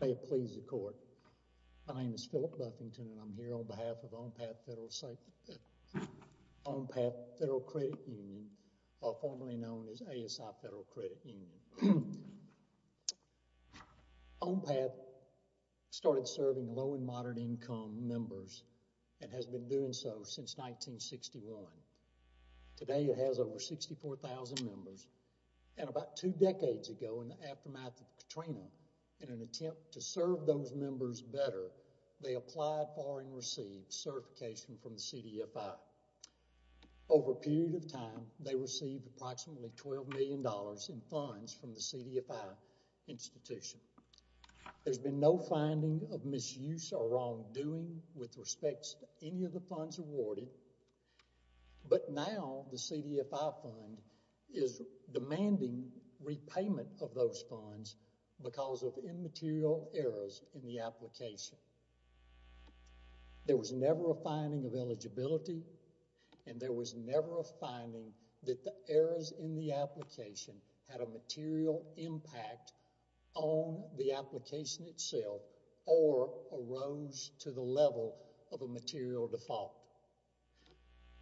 May it please the court, my name is Phillip Buffington and I'm here on behalf of OnPath Fed Crdt Un, or formerly known as ASI Fed Crdt Un. OnPath started serving low and moderate income members and has been doing so since 1961. Today it has over 64,000 members and about two decades ago, in the aftermath of Katrina, in an attempt to serve those members better, they applied for and received certification from the CDFI. Over a period of time, they received approximately $12 million in funds from the CDFI institution. There's been no finding of misuse or wrongdoing with respect to any of the funds awarded, but now the CDFI fund is demanding repayment of those funds because of immaterial errors in the application. There was never a finding of eligibility and there was never a finding that the errors in the application had a material impact on the application itself or arose to the level of a material default.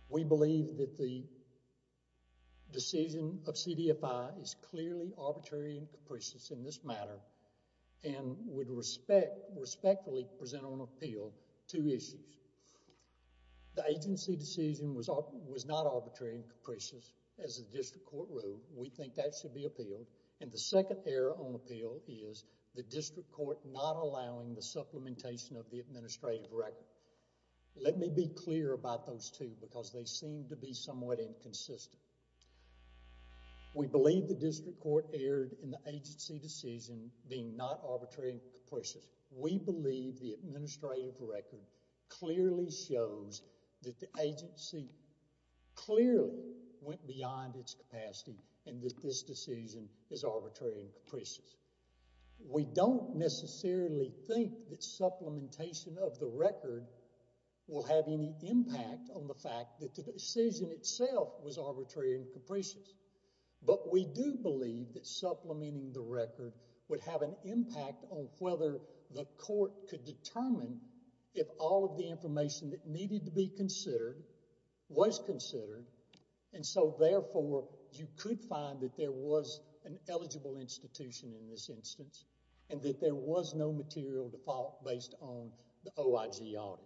We believe that the decision of CDFI is clearly arbitrary and capricious in this matter and would respectfully present on appeal two issues. The agency decision was not arbitrary and capricious as the district court ruled. We think that should be appealed. And the second error on appeal is the district court not allowing the supplementation of the administrative record. Let me be clear about those two because they seem to be somewhat inconsistent. We believe the district court erred in the agency decision being not arbitrary and capricious. We believe the administrative record clearly shows that the agency clearly went beyond its capacity and that this decision is arbitrary and capricious. We don't necessarily think that supplementation of the record will have any impact on the fact that the decision itself was arbitrary and capricious, but we do believe that supplementing the record would have an impact on whether the court could determine if all of the information that needed to be considered was considered and so therefore you could find that there was an eligible institution in this instance and that there was no material default based on the OIG audit.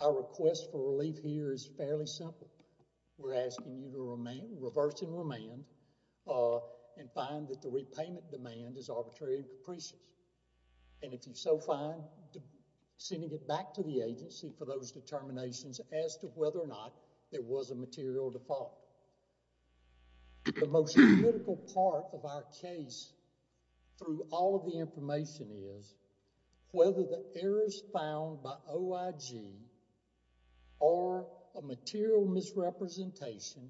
Our request for relief here is fairly simple. We're asking you to reverse and remand and find that the repayment demand is arbitrary and capricious. And if you so find, sending it back to the agency for those determinations as to whether or not there was a default. The critical part of our case through all of the information is whether the errors found by OIG or a material misrepresentation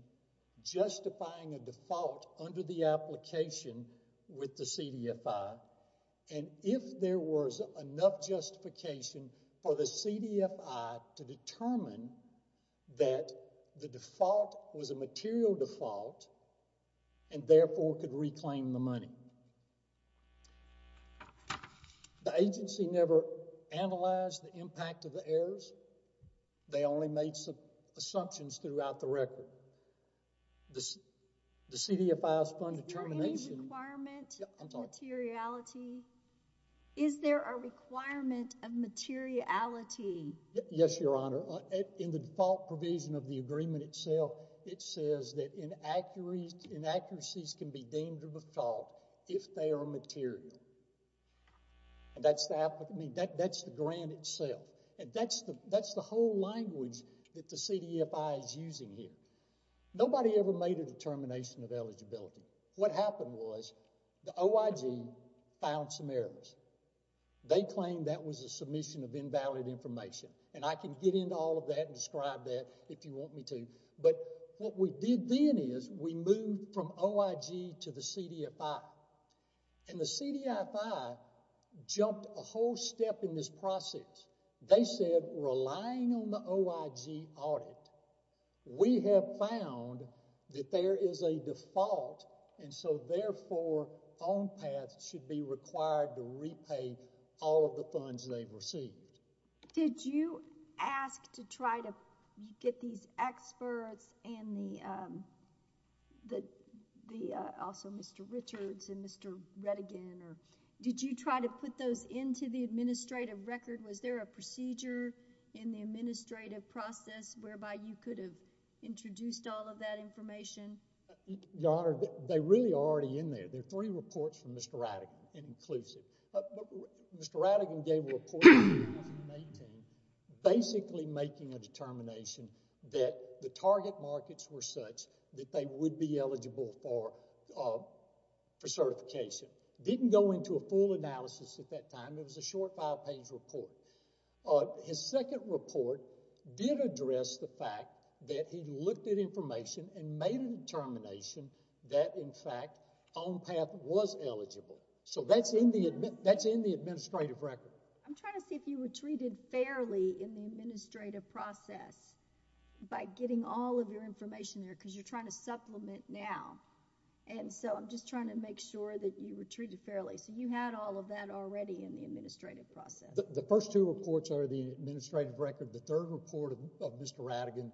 justifying a default under the application with the CDFI and if there was enough justification for the CDFI to determine that the default was a material default and therefore could reclaim the money. The agency never analyzed the impact of the errors. They only made some assumptions throughout the record. The CDFI's fund determination. Is there a requirement of materiality? Yes, Your Honor. In the default provision of the agreement itself, it says that inaccuracies can be deemed to default if they are material. That's the grant itself. That's the whole language that the CDFI is using here. Nobody ever made a determination of eligibility. What happened was the OIG found some errors. They claimed that was a submission of invalid information and I can get into all of that and describe that if you want me to, but what we did then is we moved from OIG to the CDFI and the CDFI jumped a whole step in this process. They said relying on the OIG audit, we have found that there is a default and so therefore OnPath should be required to repay all of the funds they received. Did you ask to try to get these experts and also Mr. Richards and Mr. Redigan, did you try to put those into the administrative record? Was there a procedure in the administrative process whereby you could have introduced all of that information? Your Honor, they really are already in there. There are three Mr. Redigan gave a report in 2019 basically making a determination that the target markets were such that they would be eligible for certification. Didn't go into a full analysis at that time. It was a short five page report. His second report did address the fact that he looked at information and made a determination that in fact OnPath was eligible. So that's in the administrative record. I'm trying to see if you were treated fairly in the administrative process by getting all of your information there because you're trying to supplement now and so I'm just trying to make sure that you were treated fairly. So you had all of that already in the administrative process. The first two reports are the administrative record. The third report of Mr. Redigan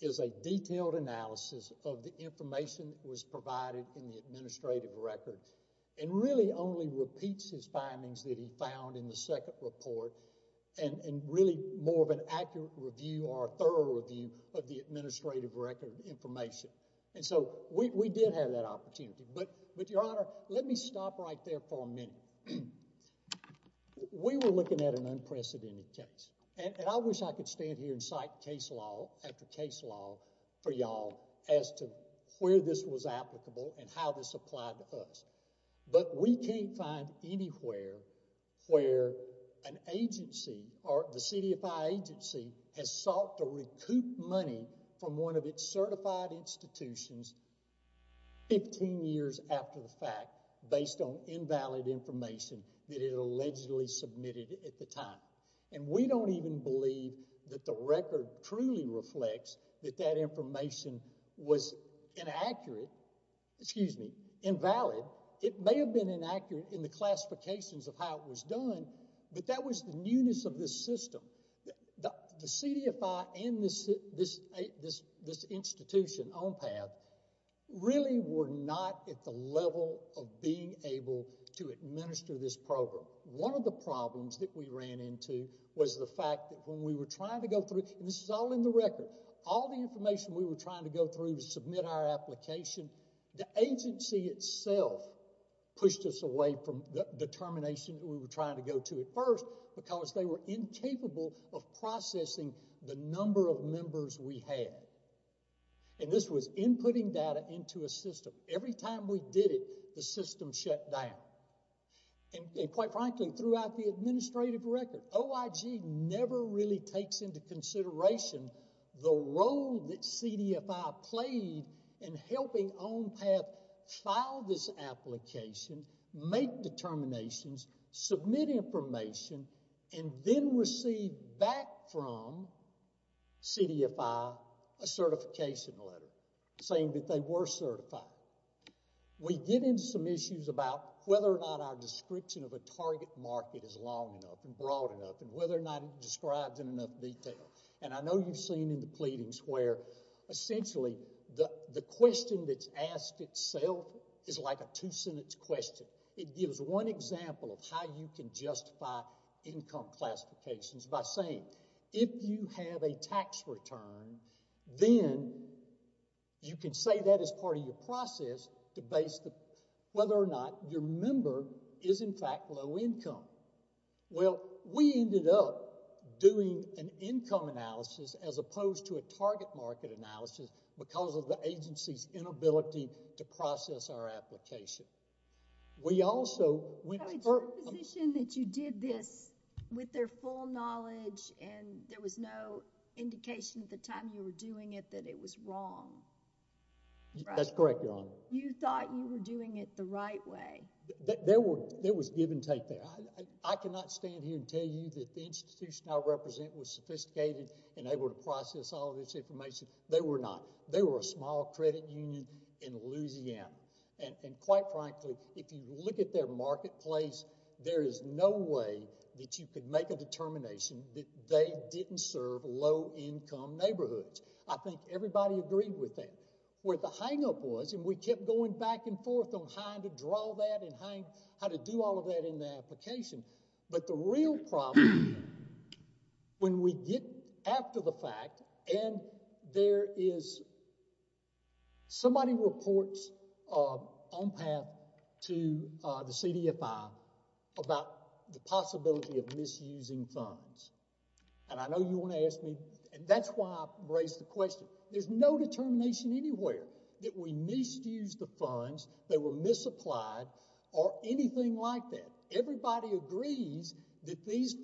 is a detailed analysis of the information that was provided in the administrative record and really only repeats his findings that he found in the second report and really more of an accurate review or a thorough review of the administrative record information. And so we did have that opportunity. But Your Honor, I wish I could stand here and cite case law after case law for y'all as to where this was applicable and how this applied to us. But we can't find anywhere where an agency or the CDFI agency has sought to recoup money from one of its certified institutions 15 years after the fact based on invalid information that it allegedly submitted at the time. And we don't even believe that the record truly reflects that that information was inaccurate, excuse me, invalid. It may have been inaccurate in the classifications of how it was done, but that was the newness of this system. The CDFI and this institution, ONPAD, really were not at the level of being able to administer this program. One of the problems that we had was the fact that when we were trying to go through, and this is all in the record, all the information we were trying to go through to submit our application, the agency itself pushed us away from the determination that we were trying to go to at first because they were incapable of processing the number of members we had. And this was inputting data into a system. Every time we did it, the system shut down. And quite frankly, throughout the process, it never really takes into consideration the role that CDFI played in helping ONPAD file this application, make determinations, submit information, and then receive back from CDFI a certification letter saying that they were certified. We get into some issues about whether or not our description of a target market is long enough and broad enough and whether or not it describes in enough detail. And I know you've seen in the pleadings where essentially the question that's asked itself is like a two-sentence question. It gives one example of how you can justify income classifications by saying, if you have a tax return, then you can say that as part of your process to base whether or not your member is, in fact, low income. Well, we ended up doing an income analysis as opposed to a target market analysis because of the agency's inability to process our application. We also... Your position that you did this with their full knowledge and there was no indication at the time you were doing it that it was wrong. That's correct, Your Honor. You thought you were doing it the right way. There was give and take there. I cannot stand here and tell you that the institution I represent was sophisticated and able to process all of this information. They were not. They were a small credit union in Louisiana. And quite frankly, if you look at their marketplace, there is no way that you could make a determination that they didn't serve low income neighborhoods. I think everybody agreed with that. Where the hangup was, and we kept going back and forth on how to draw that and how to do all of that in the application, but the real problem when we get after the fact and there is somebody reports on path to the CDFI about the possibility of misusing funds. And I know you want to ask me, and that's why I raised the question. There's no determination anywhere that we misused the funds, they were misapplied, or the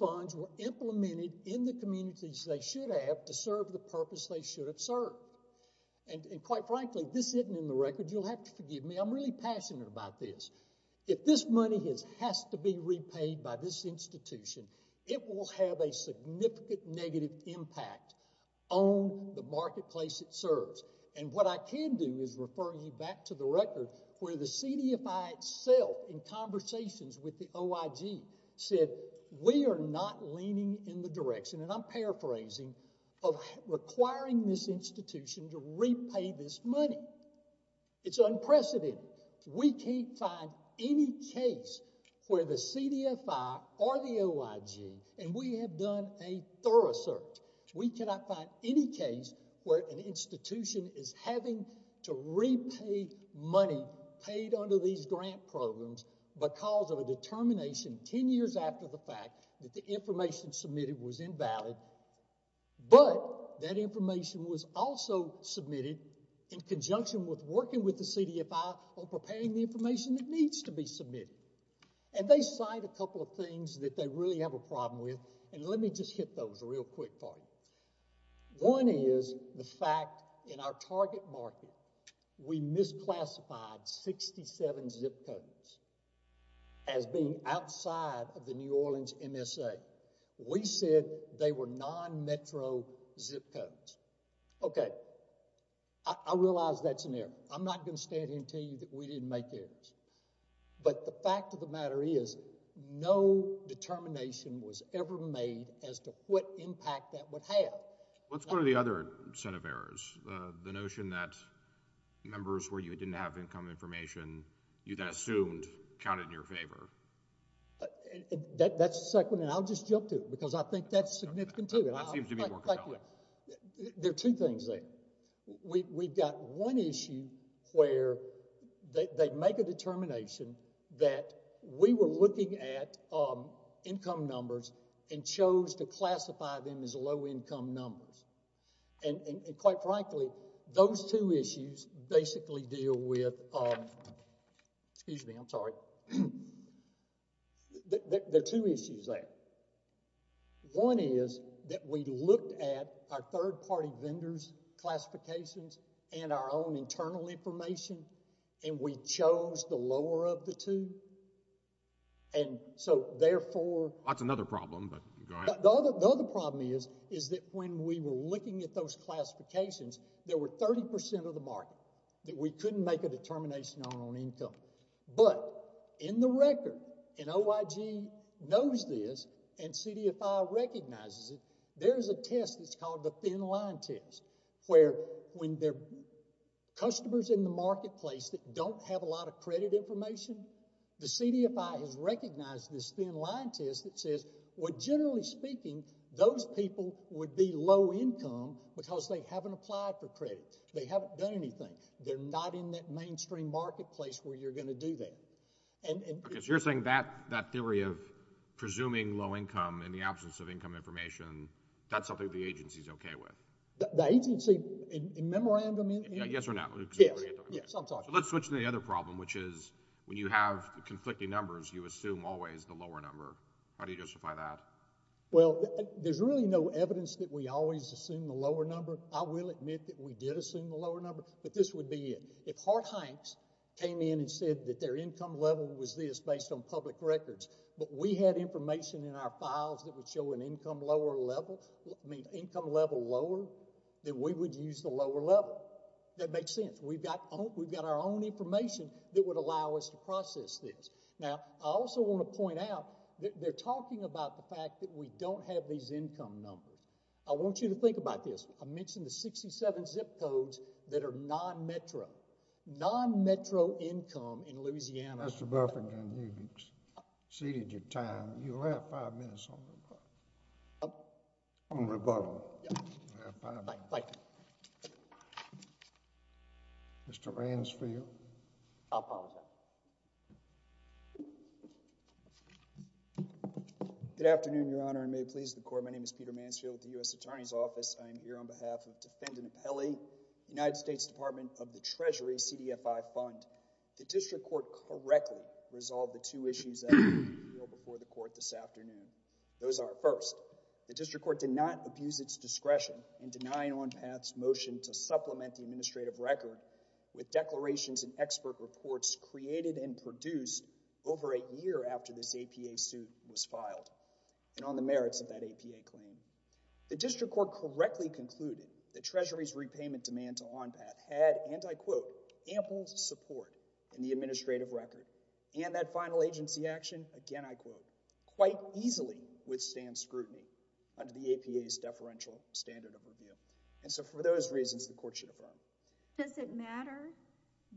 funds were implemented in the communities they should have to serve the purpose they should have served. And quite frankly, this isn't in the record. You'll have to forgive me. I'm really passionate about this. If this money has to be repaid by this institution, it will have a significant negative impact on the marketplace it serves. And what I can do is refer you back to the record where the CDFI itself in conversations with the OIG said, we are not leaning in the direction, and I'm paraphrasing, of requiring this institution to repay this money. It's unprecedented. We can't find any case where the CDFI or the OIG, and we have done a thorough search, we cannot find any case where an institution is having to repay money paid under these grant programs because of a determination ten years after the fact that the information submitted was invalid, but that information was also submitted in conjunction with working with the CDFI on preparing the information that needs to be submitted. And they cite a couple of things that they really have a In fact, in our target market, we misclassified 67 zip codes as being outside of the New Orleans MSA. We said they were non-metro zip codes. Okay. I realize that's an error. I'm not going to stand here and tell you that we didn't make errors. But the fact of the matter is, no determination was ever made as to what impact that would have. What's one of the other set of errors? The notion that members where you didn't have income information, you then assumed, counted in your favor. That's the second, and I'll just jump to it because I think that's significant, too. That seems to be more compelling. There are two things there. We've got one issue where they make a determination that we were looking at income numbers and chose to classify them as low-income numbers. And quite frankly, those two issues basically deal with, excuse me, I'm sorry. There are two issues there. One is that we looked at our third-party vendors' classifications and our own internal information, and we chose the lower of the two. And so therefore... That's another problem, but go ahead. The other problem is that when we were looking at those classifications, there were 30% of the market that we couldn't make a determination on on income. But in the record, and OIG knows this, and CDFI recognizes it, there's a test that's called the thin-line test, where when there are customers in the marketplace that don't have a lot of credit information, the CDFI has recognized this thin-line test that says, well, generally speaking, those people would be low-income because they haven't applied for credit. They haven't done anything. They're not in that mainstream marketplace where you're going to do that. Okay, so you're saying that theory of presuming low income in the absence of income information, that's something the agency's okay with? The agency, in memorandum... Yes or no? Yes. Let's switch to the other problem, which is when you have conflicting numbers, you assume always the lower number. How do you justify that? Well, there's really no evidence that we always assume the lower number. I will admit that we did assume the lower number, but this would be it. If Hart-Hanks came in and said that their income level was this based on public records, but we had information in our files that would show an income level lower, then we would use the lower level. That makes sense. We've got our own information that would allow us to process this. Now, I also want to point out that they're talking about the fact that we don't have these income numbers. I want you to think about this. I mentioned the 67 zip codes that are non-metro. Non-metro income in Louisiana... Mr. Buffington, you exceeded your time. You'll have five minutes on rebuttal. On rebuttal. You'll have five minutes. Thank you. Mr. Mansfield. I apologize. Good afternoon, Your Honor, and may it please the Court. My name is Peter Mansfield with the U.S. Attorney's Office. I am here on behalf of Defendant Apelli, United States Department of the Treasury CDFI Fund. The district court correctly resolved the two issues before the court this afternoon. Those are, first, the district court did not abuse its discretion in denying on path's motion to supplement the administrative record with declarations and expert reports created and produced over a year after this APA suit was filed, and on the merits of that APA claim. The district court correctly concluded that Treasury's repayment demand to on path had, and I quote, ample support in the administrative record. And that final agency action, again I quote, quite easily withstand scrutiny under the APA's deferential standard of review. And so for those reasons, the court should affirm. Does it matter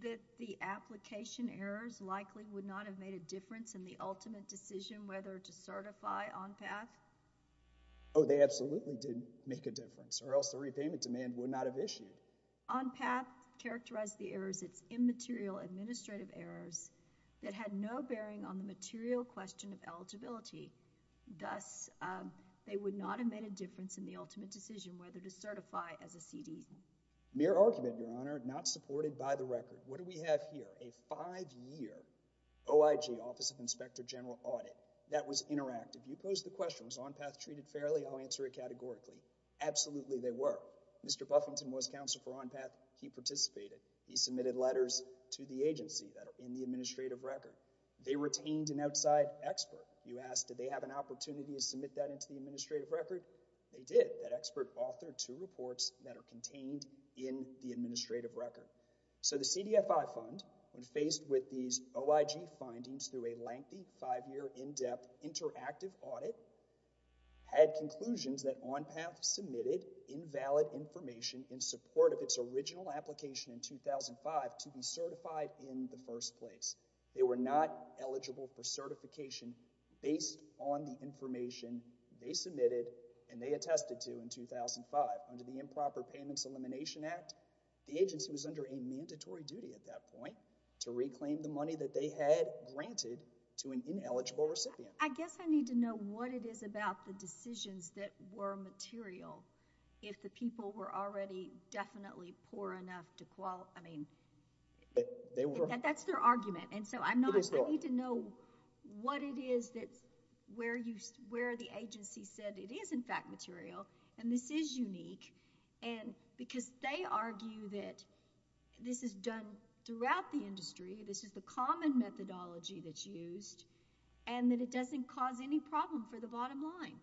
that the application errors likely would not have made a difference in the ultimate decision whether to certify on path? Oh, they absolutely didn't make a difference, or else the repayment demand would not have issued. On path characterized the errors as immaterial administrative errors that had no bearing on the material question of eligibility. Thus, they would not have made a difference in the ultimate decision whether to certify as a CD. Mere argument, Your Honor, not supported by the record. What do we have here? A five-year OIG, Office of Inspector General audit. That was interactive. You posed the question, was on path treated fairly? I'll answer it categorically. Absolutely they were. Mr. Buffington was counsel for on path. He participated. He submitted letters to the agency that are in the administrative record. They retained an outside expert. You asked, did they have an opportunity to submit that into the administrative record? They did. That expert authored two reports that are contained in the administrative record. So the CDFI fund, when faced with these OIG findings through a lengthy five-year in-depth interactive audit, had conclusions that on path submitted invalid information in support of its original application in 2005 to be certified in the first place. They were not eligible for certification based on the information they submitted and they attested to in 2005. Under the Improper Payments Elimination Act, the agency was under a mandatory duty at that point to reclaim the money that they had granted to an ineligible recipient. I guess I need to know what it is about the decisions that were material if the people were already definitely poor enough to qualify. I mean, that's their argument. I need to know what it is where the agency said it is in fact material and this is unique. Because they argue that this is done throughout the industry, this is the common methodology that's used, and that it doesn't cause any problem for the bottom line.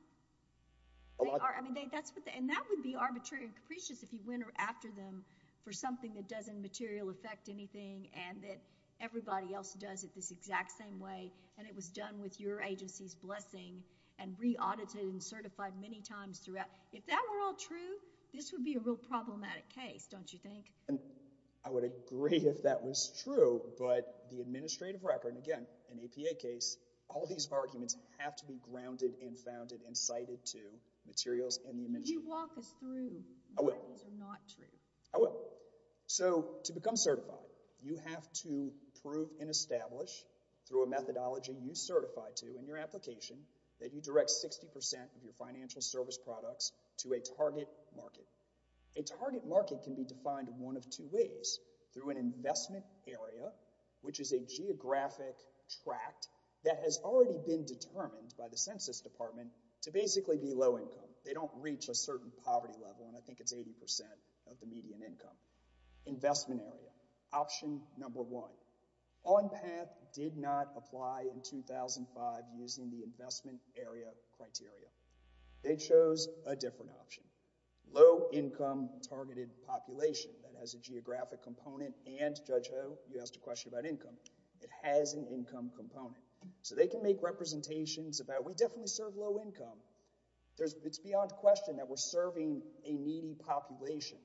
And that would be arbitrary and capricious if you went after them for something that doesn't material affect anything and that everybody else does it this exact same way and it was done with your agency's blessing and re-audited and certified many times throughout. If that were all true, this would be a real problematic case, don't you think? I would agree if that was true. But the administrative record, again, an APA case, all these arguments have to be grounded and founded and cited to materials and the administration. If you walk us through why these are not true. I will. So to become certified, you have to prove and establish through a methodology you certify to in your application that you direct 60% of your financial service products to a target market. A target market can be defined one of two ways. Through an investment area, which is a geographic tract that has already been determined by the Census Department to basically be low income. They don't reach a certain poverty level, and I think it's 80% of the median income. Investment area, option number one. OnPath did not apply in 2005 using the investment area criteria. They chose a different option. Low income targeted population that has a geographic component and, Judge Ho, you asked a question about income. It has an income component. So they can make representations about, we definitely serve low income. It's beyond question that we're serving a needy population.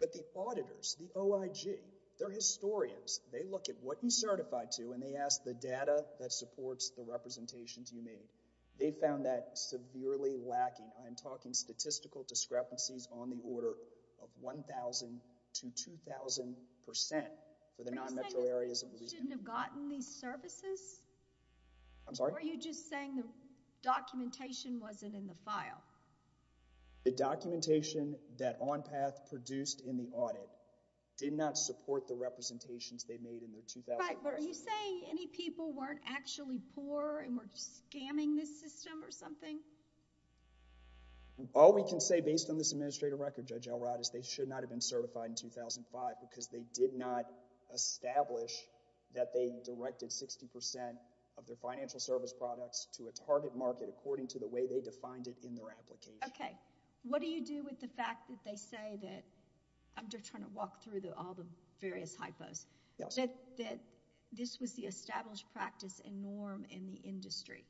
But the auditors, the OIG, they're historians. They look at what you certify to, and they ask the data that supports the representations you made. They found that severely lacking. I'm talking statistical discrepancies on the order of 1,000 to 2,000% for the non-metro areas. Are you saying that we shouldn't have gotten these services? I'm sorry? Or are you just saying the documentation wasn't in the file? The documentation that OnPath produced in the audit did not support the representations they made in the 2005. Right, but are you saying any people weren't actually poor and were scamming this system or something? All we can say based on this administrative record, Judge Elrod, is they should not have been certified in 2005 because they did not establish that they directed 60% of their financial service products to a target market according to the way they defined it in their application. Okay, what do you do with the fact that they say that, I'm just trying to walk through all the various hypos, that this was the established practice and norm in the industry?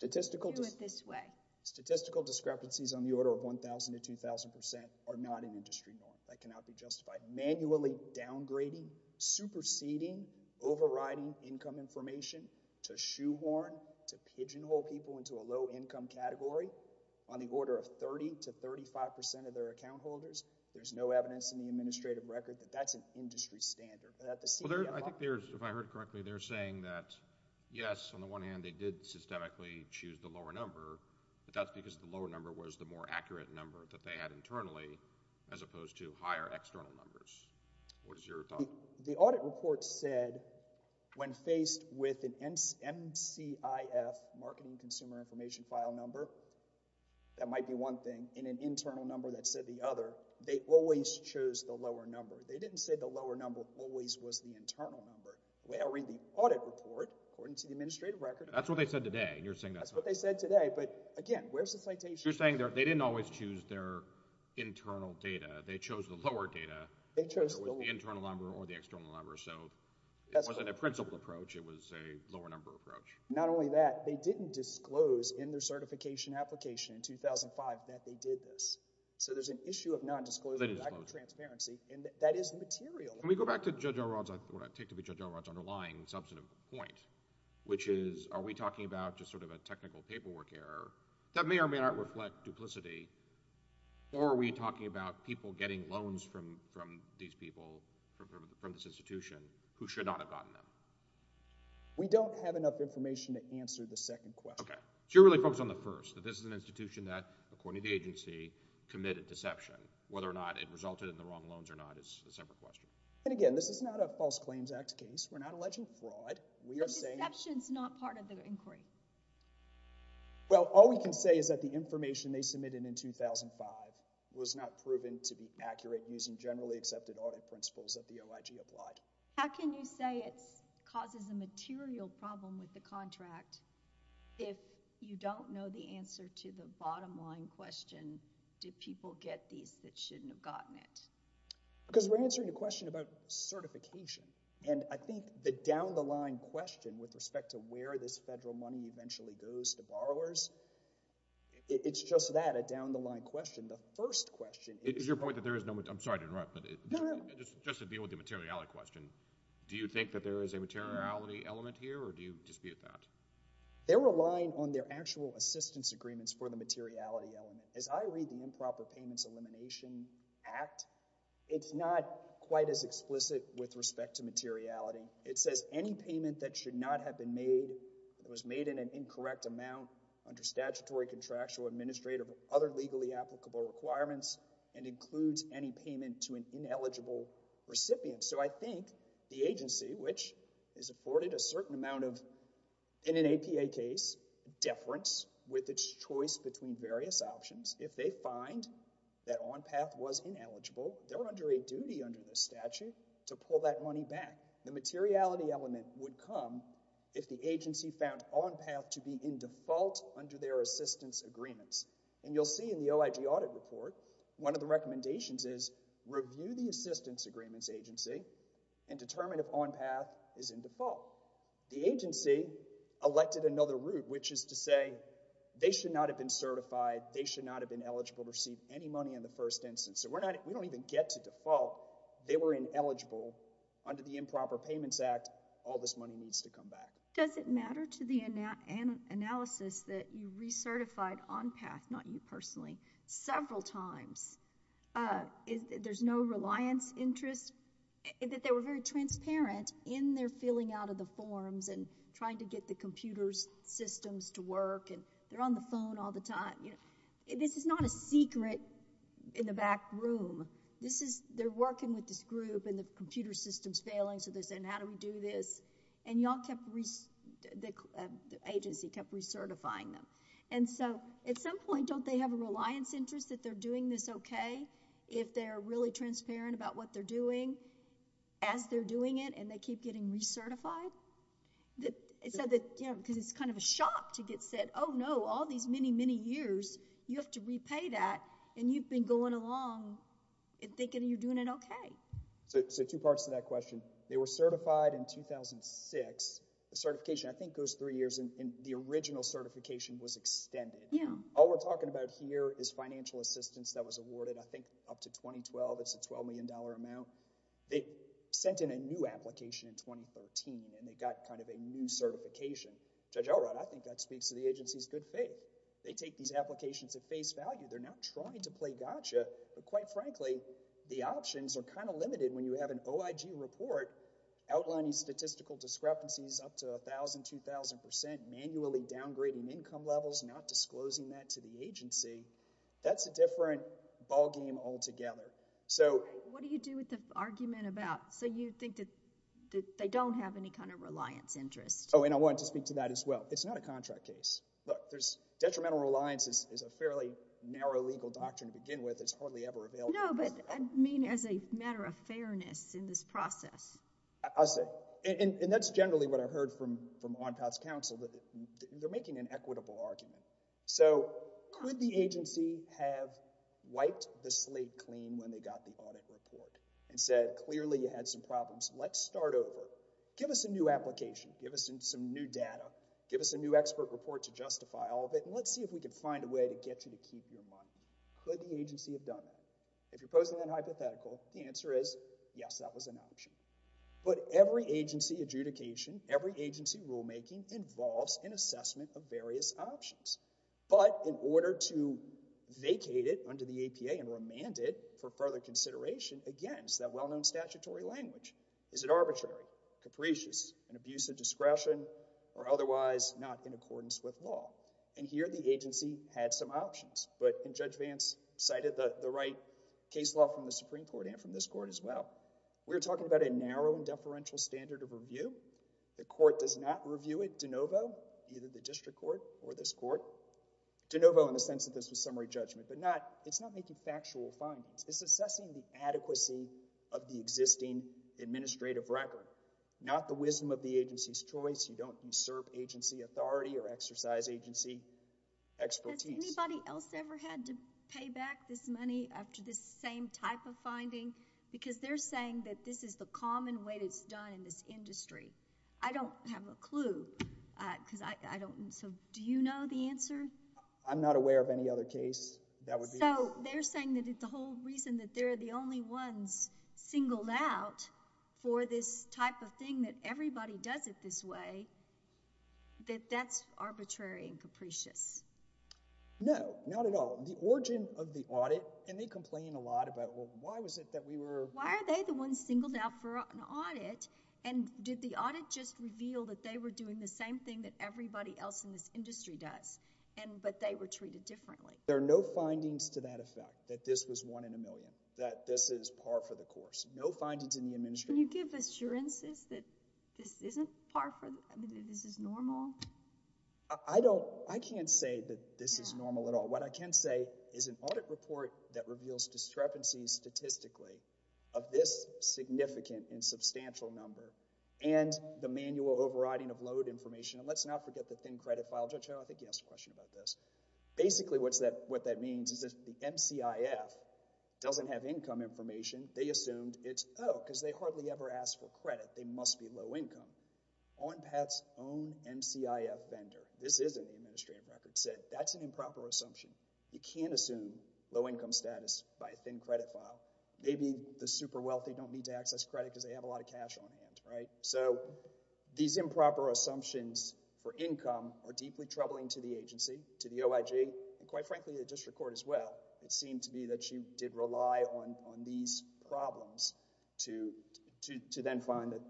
Do it this way. Statistical discrepancies on the order of 1,000 to 2,000% are not an industry norm. That cannot be justified. Manually downgrading, superseding, overriding income information to shoehorn, to pigeonhole people into a low-income category on the order of 30% to 35% of their account holders. There's no evidence in the administrative record that that's an industry standard. If I heard correctly, they're saying that, yes, on the one hand, they did systemically choose the lower number, but that's because the lower number was the more accurate number that they had internally as opposed to higher external numbers. What is your thought? The audit report said when faced with an MCIF, marketing consumer information file number, that might be one thing, in an internal number that said the other, they always chose the lower number. They didn't say the lower number always was the internal number. I read the audit report according to the administrative record. That's what they said today. That's what they said today, but again, where's the citation? You're saying they didn't always choose their internal data. They chose the lower data, whether it was the internal number or the external number. So it wasn't a principled approach. It was a lower number approach. Not only that, they didn't disclose in their certification application in 2005 that they did this. So there's an issue of non-disclosure transparency, and that is material. Can we go back to Judge O'Rourke's underlying substantive point, which is are we talking about just sort of a technical paperwork error that may or may not reflect duplicity, or are we talking about people getting loans from these people, from this institution, who should not have gotten them? We don't have enough information to answer the second question. So you're really focused on the first, that this is an institution that, according to the agency, committed deception. Whether or not it resulted in the wrong loans or not is a separate question. And again, this is not a False Claims Act case. We're not alleging fraud. But deception's not part of the inquiry. Well, all we can say is that the information they submitted in 2005 was not proven to be accurate using generally accepted audit principles that the OIG applied. How can you say it causes a material problem with the contract if you don't know the answer to the bottom-line question, did people get these that shouldn't have gotten it? Because we're answering a question about certification. And I think the down-the-line question with respect to where this federal money eventually goes to borrowers, it's just that, a down-the-line question. The first question is— Is your point that there is no—I'm sorry to interrupt, but— No, no. Just to deal with the materiality question, do you think that there is a materiality element here, or do you dispute that? They're relying on their actual assistance agreements for the materiality element. As I read the Improper Payments Elimination Act, it's not quite as explicit with respect to materiality. It says any payment that should not have been made, that was made in an incorrect amount under statutory, contractual, administrative, or other legally applicable requirements, and includes any payment to an ineligible recipient. So I think the agency, which is afforded a certain amount of, in an APA case, deference with its choice between various options, if they find that ONPATH was ineligible, they're under a duty under the statute to pull that money back. The materiality element would come if the agency found ONPATH to be in default under their assistance agreements. And you'll see in the OIG audit report one of the recommendations is review the assistance agreements agency and determine if ONPATH is in default. The agency elected another route, which is to say they should not have been certified, they should not have been eligible to receive any money in the first instance. So we don't even get to default. They were ineligible under the Improper Payments Act. All this money needs to come back. Does it matter to the analysis that you recertified ONPATH, not you personally, several times? There's no reliance interest? That they were very transparent in their filling out of the forms and trying to get the computer systems to work and they're on the phone all the time. This is not a secret in the back room. They're working with this group and the computer system's failing, so they're saying, how do we do this? And the agency kept recertifying them. And so at some point, don't they have a reliance interest that they're doing this okay if they're really transparent about what they're doing as they're doing it and they keep getting recertified? Because it's kind of a shock to get said, oh, no, all these many, many years, you have to repay that, and you've been going along thinking you're doing it okay. So two parts to that question. They were certified in 2006. The certification, I think, goes three years, and the original certification was extended. All we're talking about here is financial assistance that was awarded, I think, up to 2012. It's a $12 million amount. They sent in a new application in 2013, and they got kind of a new certification. Judge Elrod, I think that speaks to the agency's good faith. They take these applications at face value. They're not trying to play gotcha, but quite frankly, the options are kind of limited when you have an OIG report outlining statistical discrepancies up to 1,000, 2,000 percent, manually downgrading income levels, not disclosing that to the agency. That's a different ballgame altogether. So... What do you do with the argument about... So you think that they don't have any kind of reliance interest? Oh, and I wanted to speak to that as well. It's not a contract case. Look, detrimental reliance is a fairly narrow legal doctrine to begin with that's hardly ever available. No, but I mean as a matter of fairness in this process. I see. And that's generally what I've heard from ONPAT's counsel, that they're making an equitable argument. So could the agency have wiped the slate clean when they got the audit report and said, clearly you had some problems, let's start over, give us a new application, give us some new data, give us a new expert report to justify all of it, and let's see if we can find a way to get you to keep your money. Could the agency have done that? If you're posing that hypothetical, the answer is, yes, that was an option. But every agency adjudication, every agency rulemaking, involves an assessment of various options. But in order to vacate it under the APA and remand it for further consideration against that well-known statutory language, is it arbitrary, capricious, an abuse of discretion, or otherwise not in accordance with law? And here the agency had some options, but Judge Vance cited the right case law from the Supreme Court and from this court as well. We're talking about a narrow and deferential standard of review. The court does not review it de novo, either the district court or this court, de novo in the sense that this was summary judgment, but it's not making factual findings. It's assessing the adequacy of the existing administrative record, not the wisdom of the agency's choice. You don't usurp agency authority or exercise agency expertise. Has anybody else ever had to pay back this money after this same type of finding? Because they're saying that this is the common way that it's done in this industry. I don't have a clue because I don't... So do you know the answer? I'm not aware of any other case that would be... So they're saying that the whole reason that they're the only ones singled out for this type of thing that everybody does it this way, that that's arbitrary and capricious? No, not at all. The origin of the audit... And they complain a lot about, well, why was it that we were... Why are they the ones singled out for an audit? And did the audit just reveal that they were doing the same thing that everybody else in this industry does, but they were treated differently? There are no findings to that effect, that this was one in a million, that this is par for the course. No findings in the administrative... Can you give assurances that this isn't par for... I mean, that this is normal? I don't... I can't say that this is normal at all. What I can say is an audit report that reveals discrepancies statistically of this significant and substantial number and the manual overriding of load information... And let's not forget the thin credit file. Judge Howell, I think you asked a question about this. Basically, what that means is that the MCIF doesn't have income information. They assumed it's... Oh, because they hardly ever ask for credit, they must be low income. ONPAT's own MCIF vendor... This is in the administrative record... said that's an improper assumption. You can't assume low income status by a thin credit file. Maybe the super wealthy don't need to access credit because they have a lot of cash on hand, right? So, these improper assumptions for income are deeply troubling to the agency, to the OIG, and quite frankly, the district court as well. It seemed to me that she did rely on these problems to then find that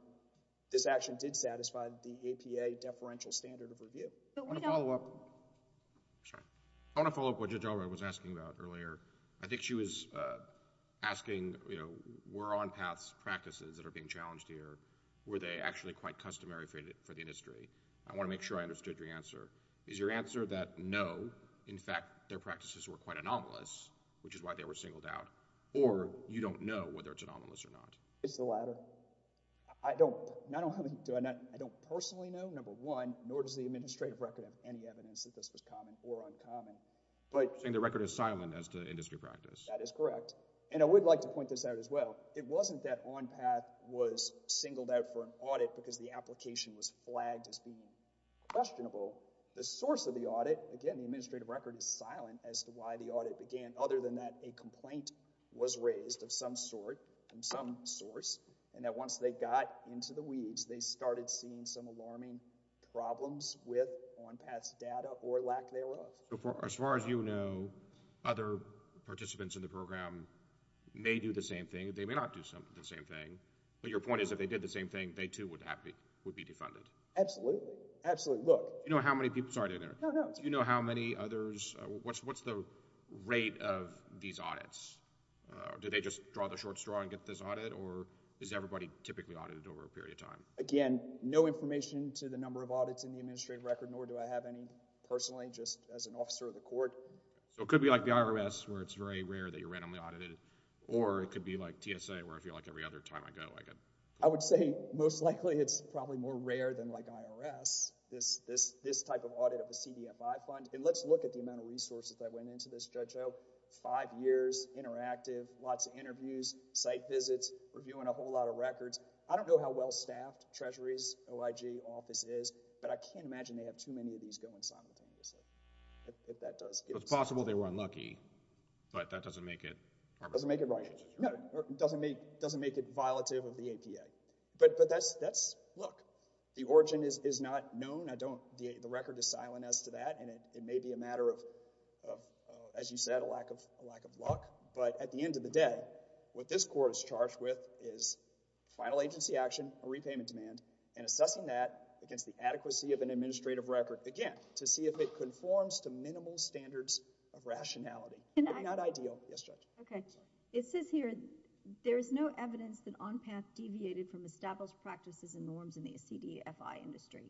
this action did satisfy the APA deferential standard of review. I want to follow up... Sorry. I want to follow up what Judge Alroy was asking about earlier. I think she was asking, you know, were ONPAT's practices that are being challenged here, were they actually quite customary for the industry? I want to make sure I understood your answer. Is your answer that no, in fact, their practices were quite anomalous, which is why they were singled out, or you don't know whether it's anomalous or not? It's the latter. I don't personally know, number one, nor does the administrative record have any evidence that this was common or uncommon, but... You're saying the record is silent as to industry practice. That is correct, and I would like to point this out as well. It wasn't that ONPAT was singled out for an audit because the application was flagged as being questionable. The source of the audit, again, the administrative record is silent as to why the audit began, other than that a complaint was raised of some sort, from some source, and that once they got into the weeds, they started seeing some alarming problems with ONPAT's data or lack thereof. As far as you know, other participants in the program may do the same thing. They may not do the same thing, but your point is if they did the same thing, they, too, would be defunded. Absolutely. Absolutely. Look... Do you know how many people... Sorry to interrupt. Do you know how many others... What's the rate of these audits? Do they just draw the short straw and get this audit, or is everybody typically audited over a period of time? Again, no information to the number of audits in the administrative record, nor do I have any personally, just as an officer of the court. So it could be like the IRS, where it's very rare that you're randomly audited, or it could be like TSA, where I feel like every other time I go, I get... I would say most likely it's probably more rare than like IRS. This type of audit of a CDFI fund, and let's look at the amount of resources that went into this, Judge Ho. Five years, interactive, lots of interviews, site visits, reviewing a whole lot of records. I don't know how well-staffed Treasury's OIG office is, but I can't imagine they have too many of these going simultaneously, if that does... It's possible they were unlucky, but that doesn't make it... Doesn't make it right. Doesn't make it violative of the APA. But that's... look. The origin is not known. The record is silent as to that, and it may be a matter of, as you said, a lack of luck. But at the end of the day, what this court is charged with is final agency action, a repayment demand, and assessing that against the adequacy of an administrative record, again, to see if it conforms to minimal standards of rationality. Not ideal. Yes, Judge. It says here, there is no evidence that on path deviated from established practices and norms in the ACDFI industry.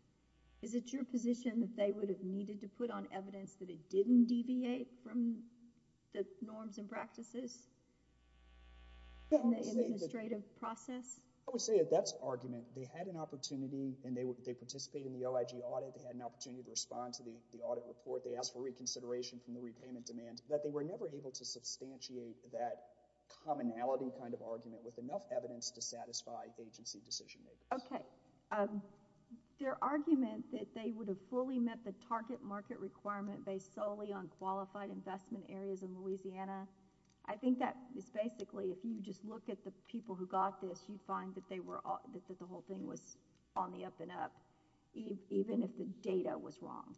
Is it your position that they would have needed to put on evidence that it didn't deviate from the norms and practices in the administrative process? I would say that that's an argument. They had an opportunity, and they participated in the OIG audit. They had an opportunity to respond to the audit report. They asked for reconsideration from the repayment demands, but they were never able to substantiate that commonality kind of argument with enough evidence to satisfy agency decision-makers. Okay. Their argument that they would have fully met the target market requirement based solely on qualified investment areas in Louisiana, I think that is basically, if you just look at the people who got this, you'd find that the whole thing was on the up-and-up, even if the data was wrong.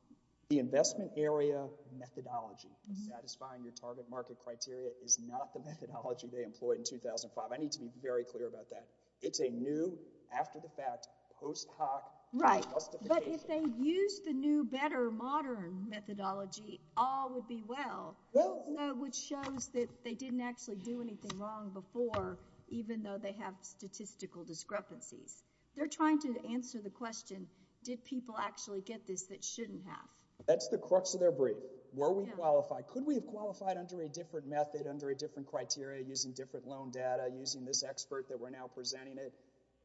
The investment area methodology of satisfying your target market criteria is not the methodology they employed in 2005. I need to be very clear about that. It's a new, after-the-fact, post-hoc justification. Right. But if they used the new, better, modern methodology, all would be well, which shows that they didn't actually do anything wrong before, even though they have statistical discrepancies. They're trying to answer the question, did people actually get this that shouldn't have? That's the crux of their brief. Were we qualified? Could we have qualified under a different method, under a different criteria, using different loan data, using this expert that we're now presenting?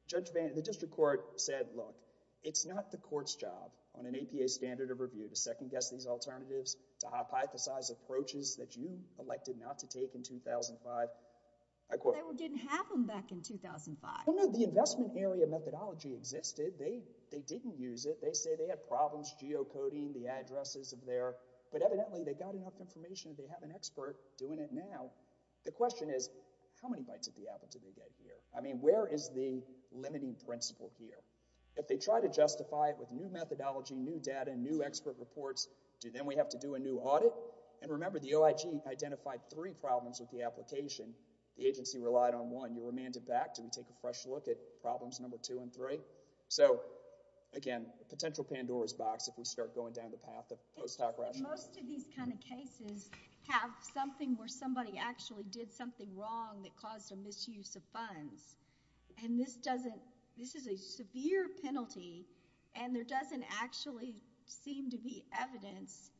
The district court said, look, it's not the court's job, on an APA standard of review, to second-guess these alternatives, to hypothesize approaches that you elected not to take in 2005. They didn't have them back in 2005. No, no, the investment area methodology existed. They didn't use it. They say they had problems geocoding the addresses of their... But evidently, they got enough information, they have an expert doing it now. The question is, how many bites of the apple did they get here? I mean, where is the limiting principle here? If they try to justify it with new methodology, new data, new expert reports, do then we have to do a new audit? And remember, the OIG identified three problems with the application. The agency relied on one. You remanded back, did we take a fresh look at problems number two and three? So, again, potential Pandora's box if we start going down the path of post-hoc rationale. Most of these kind of cases have something where somebody actually did something wrong that caused a misuse of funds. And this doesn't... This is a severe penalty, and there doesn't actually seem to be evidence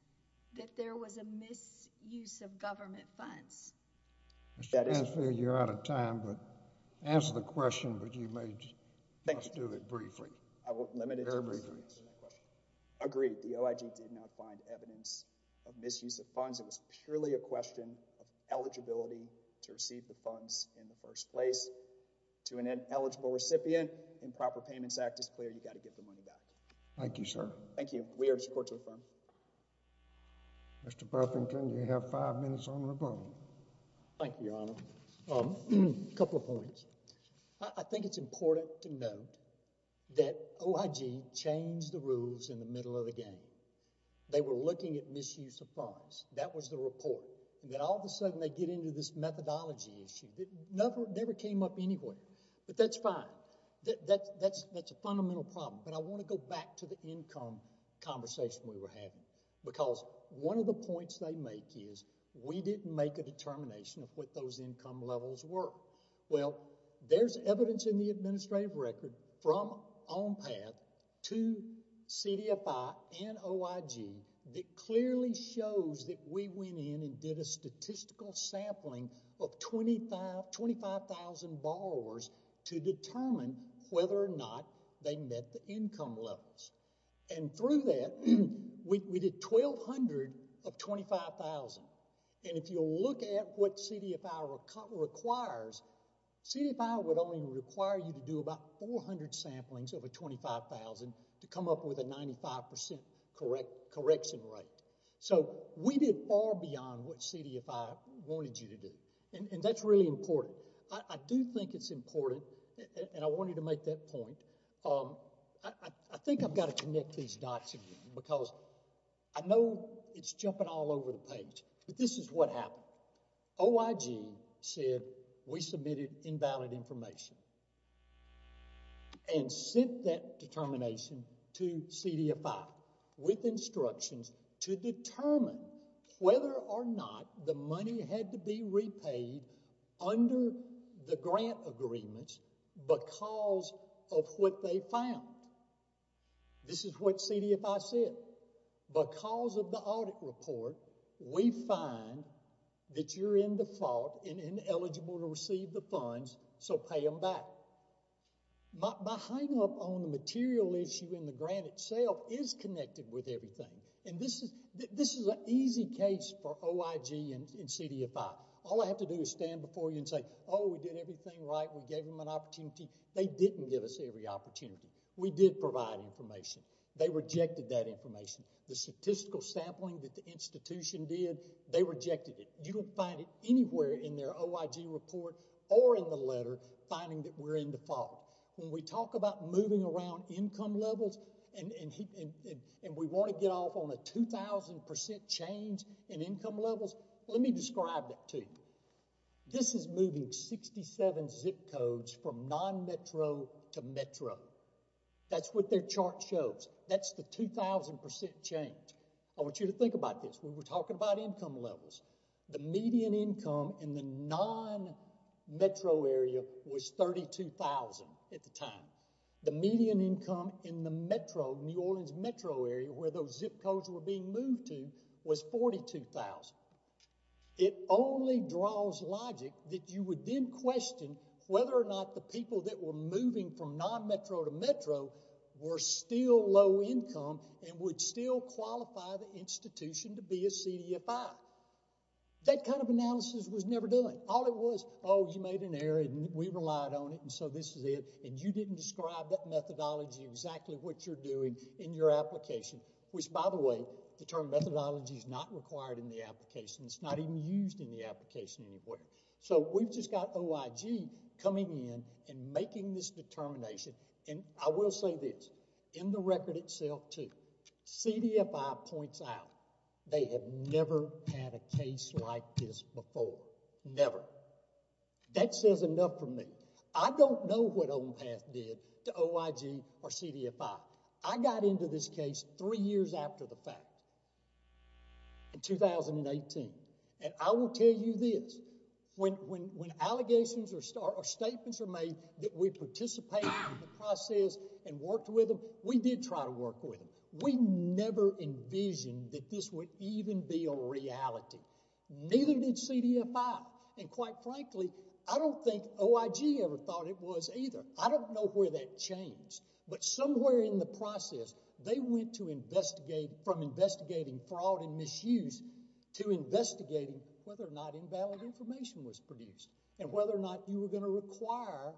that there was a misuse of government funds. Mr. Mansfield, you're out of time, but ask the question, but you may just do it briefly. Very briefly. Agreed. The OIG did not find evidence of misuse of funds. It was purely a question of eligibility to receive the funds in the first place. To an eligible recipient, improper payments act is clear. You got to get the money back. Thank you, sir. Thank you. Mr. Buffington, you have five minutes on the phone. Thank you, Your Honor. A couple of points. I think it's important to note that OIG changed the rules in the middle of the game. They were looking at misuse of funds. That was the report. And then all of a sudden, they get into this methodology issue. It never came up anywhere. But that's fine. That's a fundamental problem. But I want to go back to the income conversation we were having, because one of the points they make is we didn't make a determination of what those income levels were. Well, there's evidence in the administrative record from OMPAT to CDFI and OIG that clearly shows that we went in and did a statistical sampling of 25,000 borrowers to determine whether or not they met the income levels. And through that, we did 1,200 of 25,000. And if you look at what CDFI requires, CDFI would only require you to do about 400 samplings over 25,000 to come up with a 95% correction rate. So we did far beyond what CDFI wanted you to do. And that's really important. I do think it's important, and I want you to make that point. I think I've got to connect these dots again, because I know it's jumping all over the page, but this is what happened. OIG said we submitted invalid information and sent that determination to CDFI with instructions to determine whether or not the money had to be repaid under the grant agreements because of what they found. This is what CDFI said. Because of the audit report, we find that you're in the fault and ineligible to receive the funds, so pay them back. My hang-up on the material issue in the grant itself is connected with everything. And this is an easy case for OIG and CDFI. All I have to do is stand before you and say, oh, we did everything right. We gave them an opportunity. They didn't give us every opportunity. We did provide information. They rejected that information. The statistical sampling that the institution did, they rejected it. You don't find it anywhere in their OIG report or in the letter finding that we're in the fault. When we talk about moving around income levels and we want to get off on a 2,000% change in income levels, let me describe that to you. This is moving 67 zip codes from non-metro to metro. That's what their chart shows. That's the 2,000% change. I want you to think about this. When we're talking about income levels, the median income in the non-metro area was $32,000 at the time. The median income in the metro, New Orleans metro area, where those zip codes were being moved to, was $42,000. It only draws logic that you would then question whether or not the people that were moving from non-metro to metro were still low income and would still qualify the institution to be a CDFI. That kind of analysis was never done. All it was, oh, you made an error and we relied on it, and so this is it, and you didn't describe that methodology exactly what you're doing in your application, which, by the way, the term methodology is not required in the application. It's not even used in the application anywhere. So we've just got OIG coming in and making this determination, and I will say this. In the record itself, too, CDFI points out they have never had a case like this before. Never. That says enough for me. I don't know what OMPAT did to OIG or CDFI. I got into this case three years after the fact in 2018, and I will tell you this. When allegations or statements are made that we participated in the process and worked with them, we did try to work with them. We never envisioned that this would even be a reality. Neither did CDFI, and quite frankly, I don't think OIG ever thought it was either. I don't know where that changed, but somewhere in the process, they went from investigating fraud and misuse to investigating whether or not invalid information was produced and whether or not you were going to require,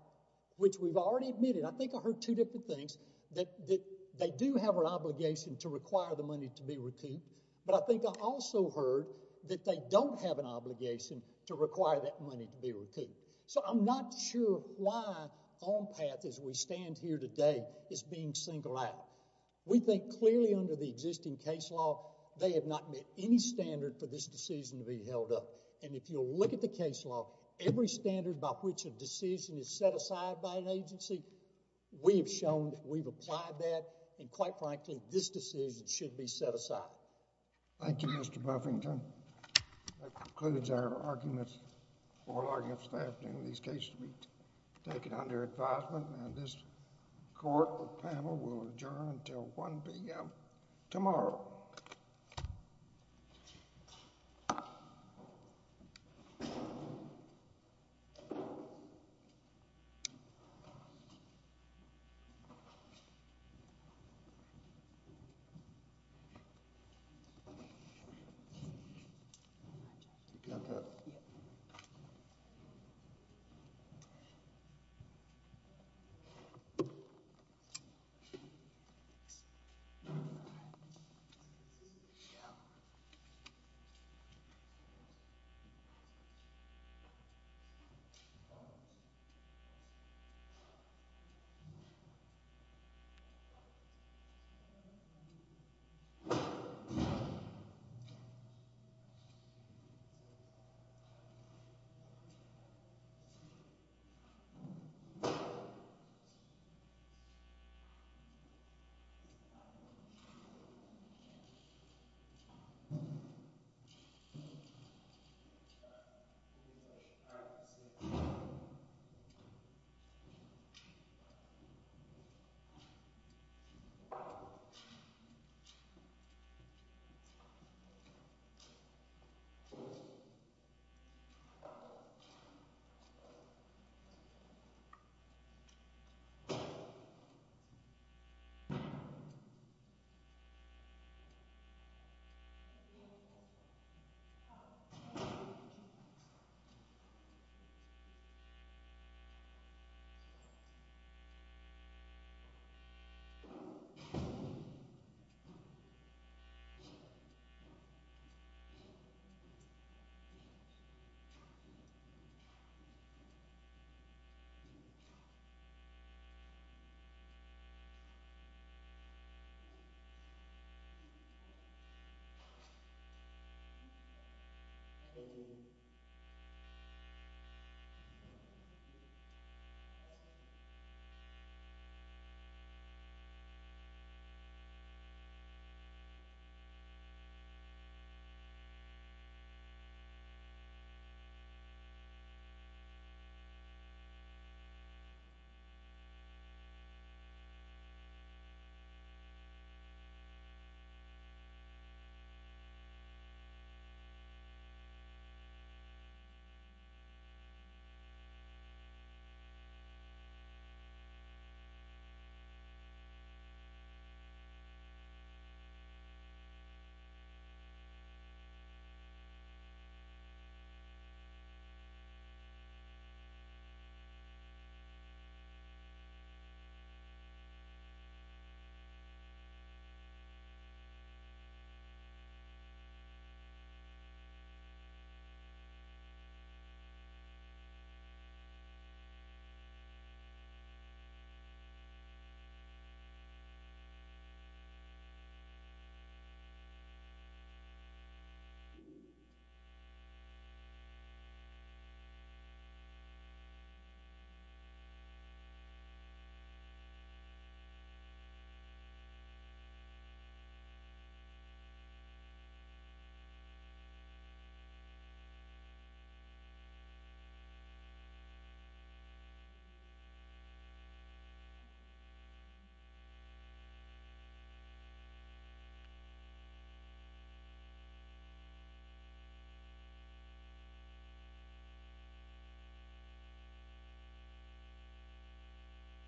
which we've already admitted. I think I heard two different things, that they do have an obligation to require the money to be repaid, but I think I also heard that they don't have an obligation to require that money to be repaid. So I'm not sure why OMPAT, as we stand here today, is being singled out. We think clearly under the existing case law, they have not met any standard for this decision to be held up, and if you'll look at the case law, every standard by which a decision is set aside by an agency, we have shown that we've applied that, and quite frankly, this decision should be set aside. Thank you, Mr. Buffington. That concludes our arguments for this afternoon. These cases will be taken under advisement, and this court panel will adjourn until 1 p.m. tomorrow. Thank you. Thank you.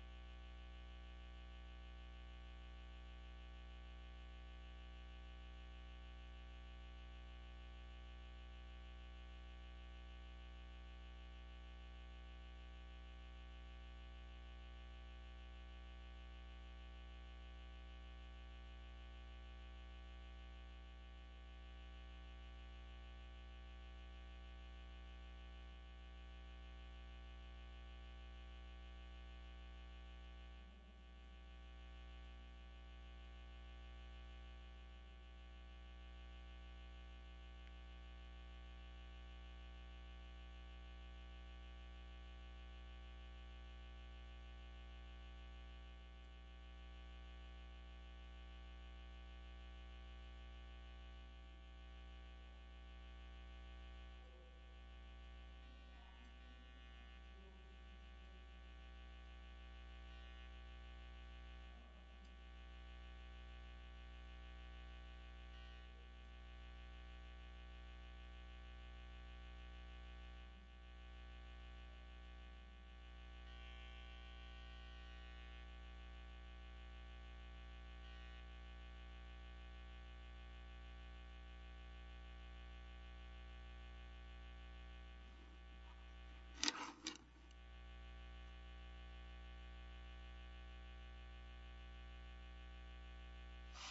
Thank you. Thank you. Thank you. Thank you. Thank you. Thank you. Thank you. Thank you. Thank you.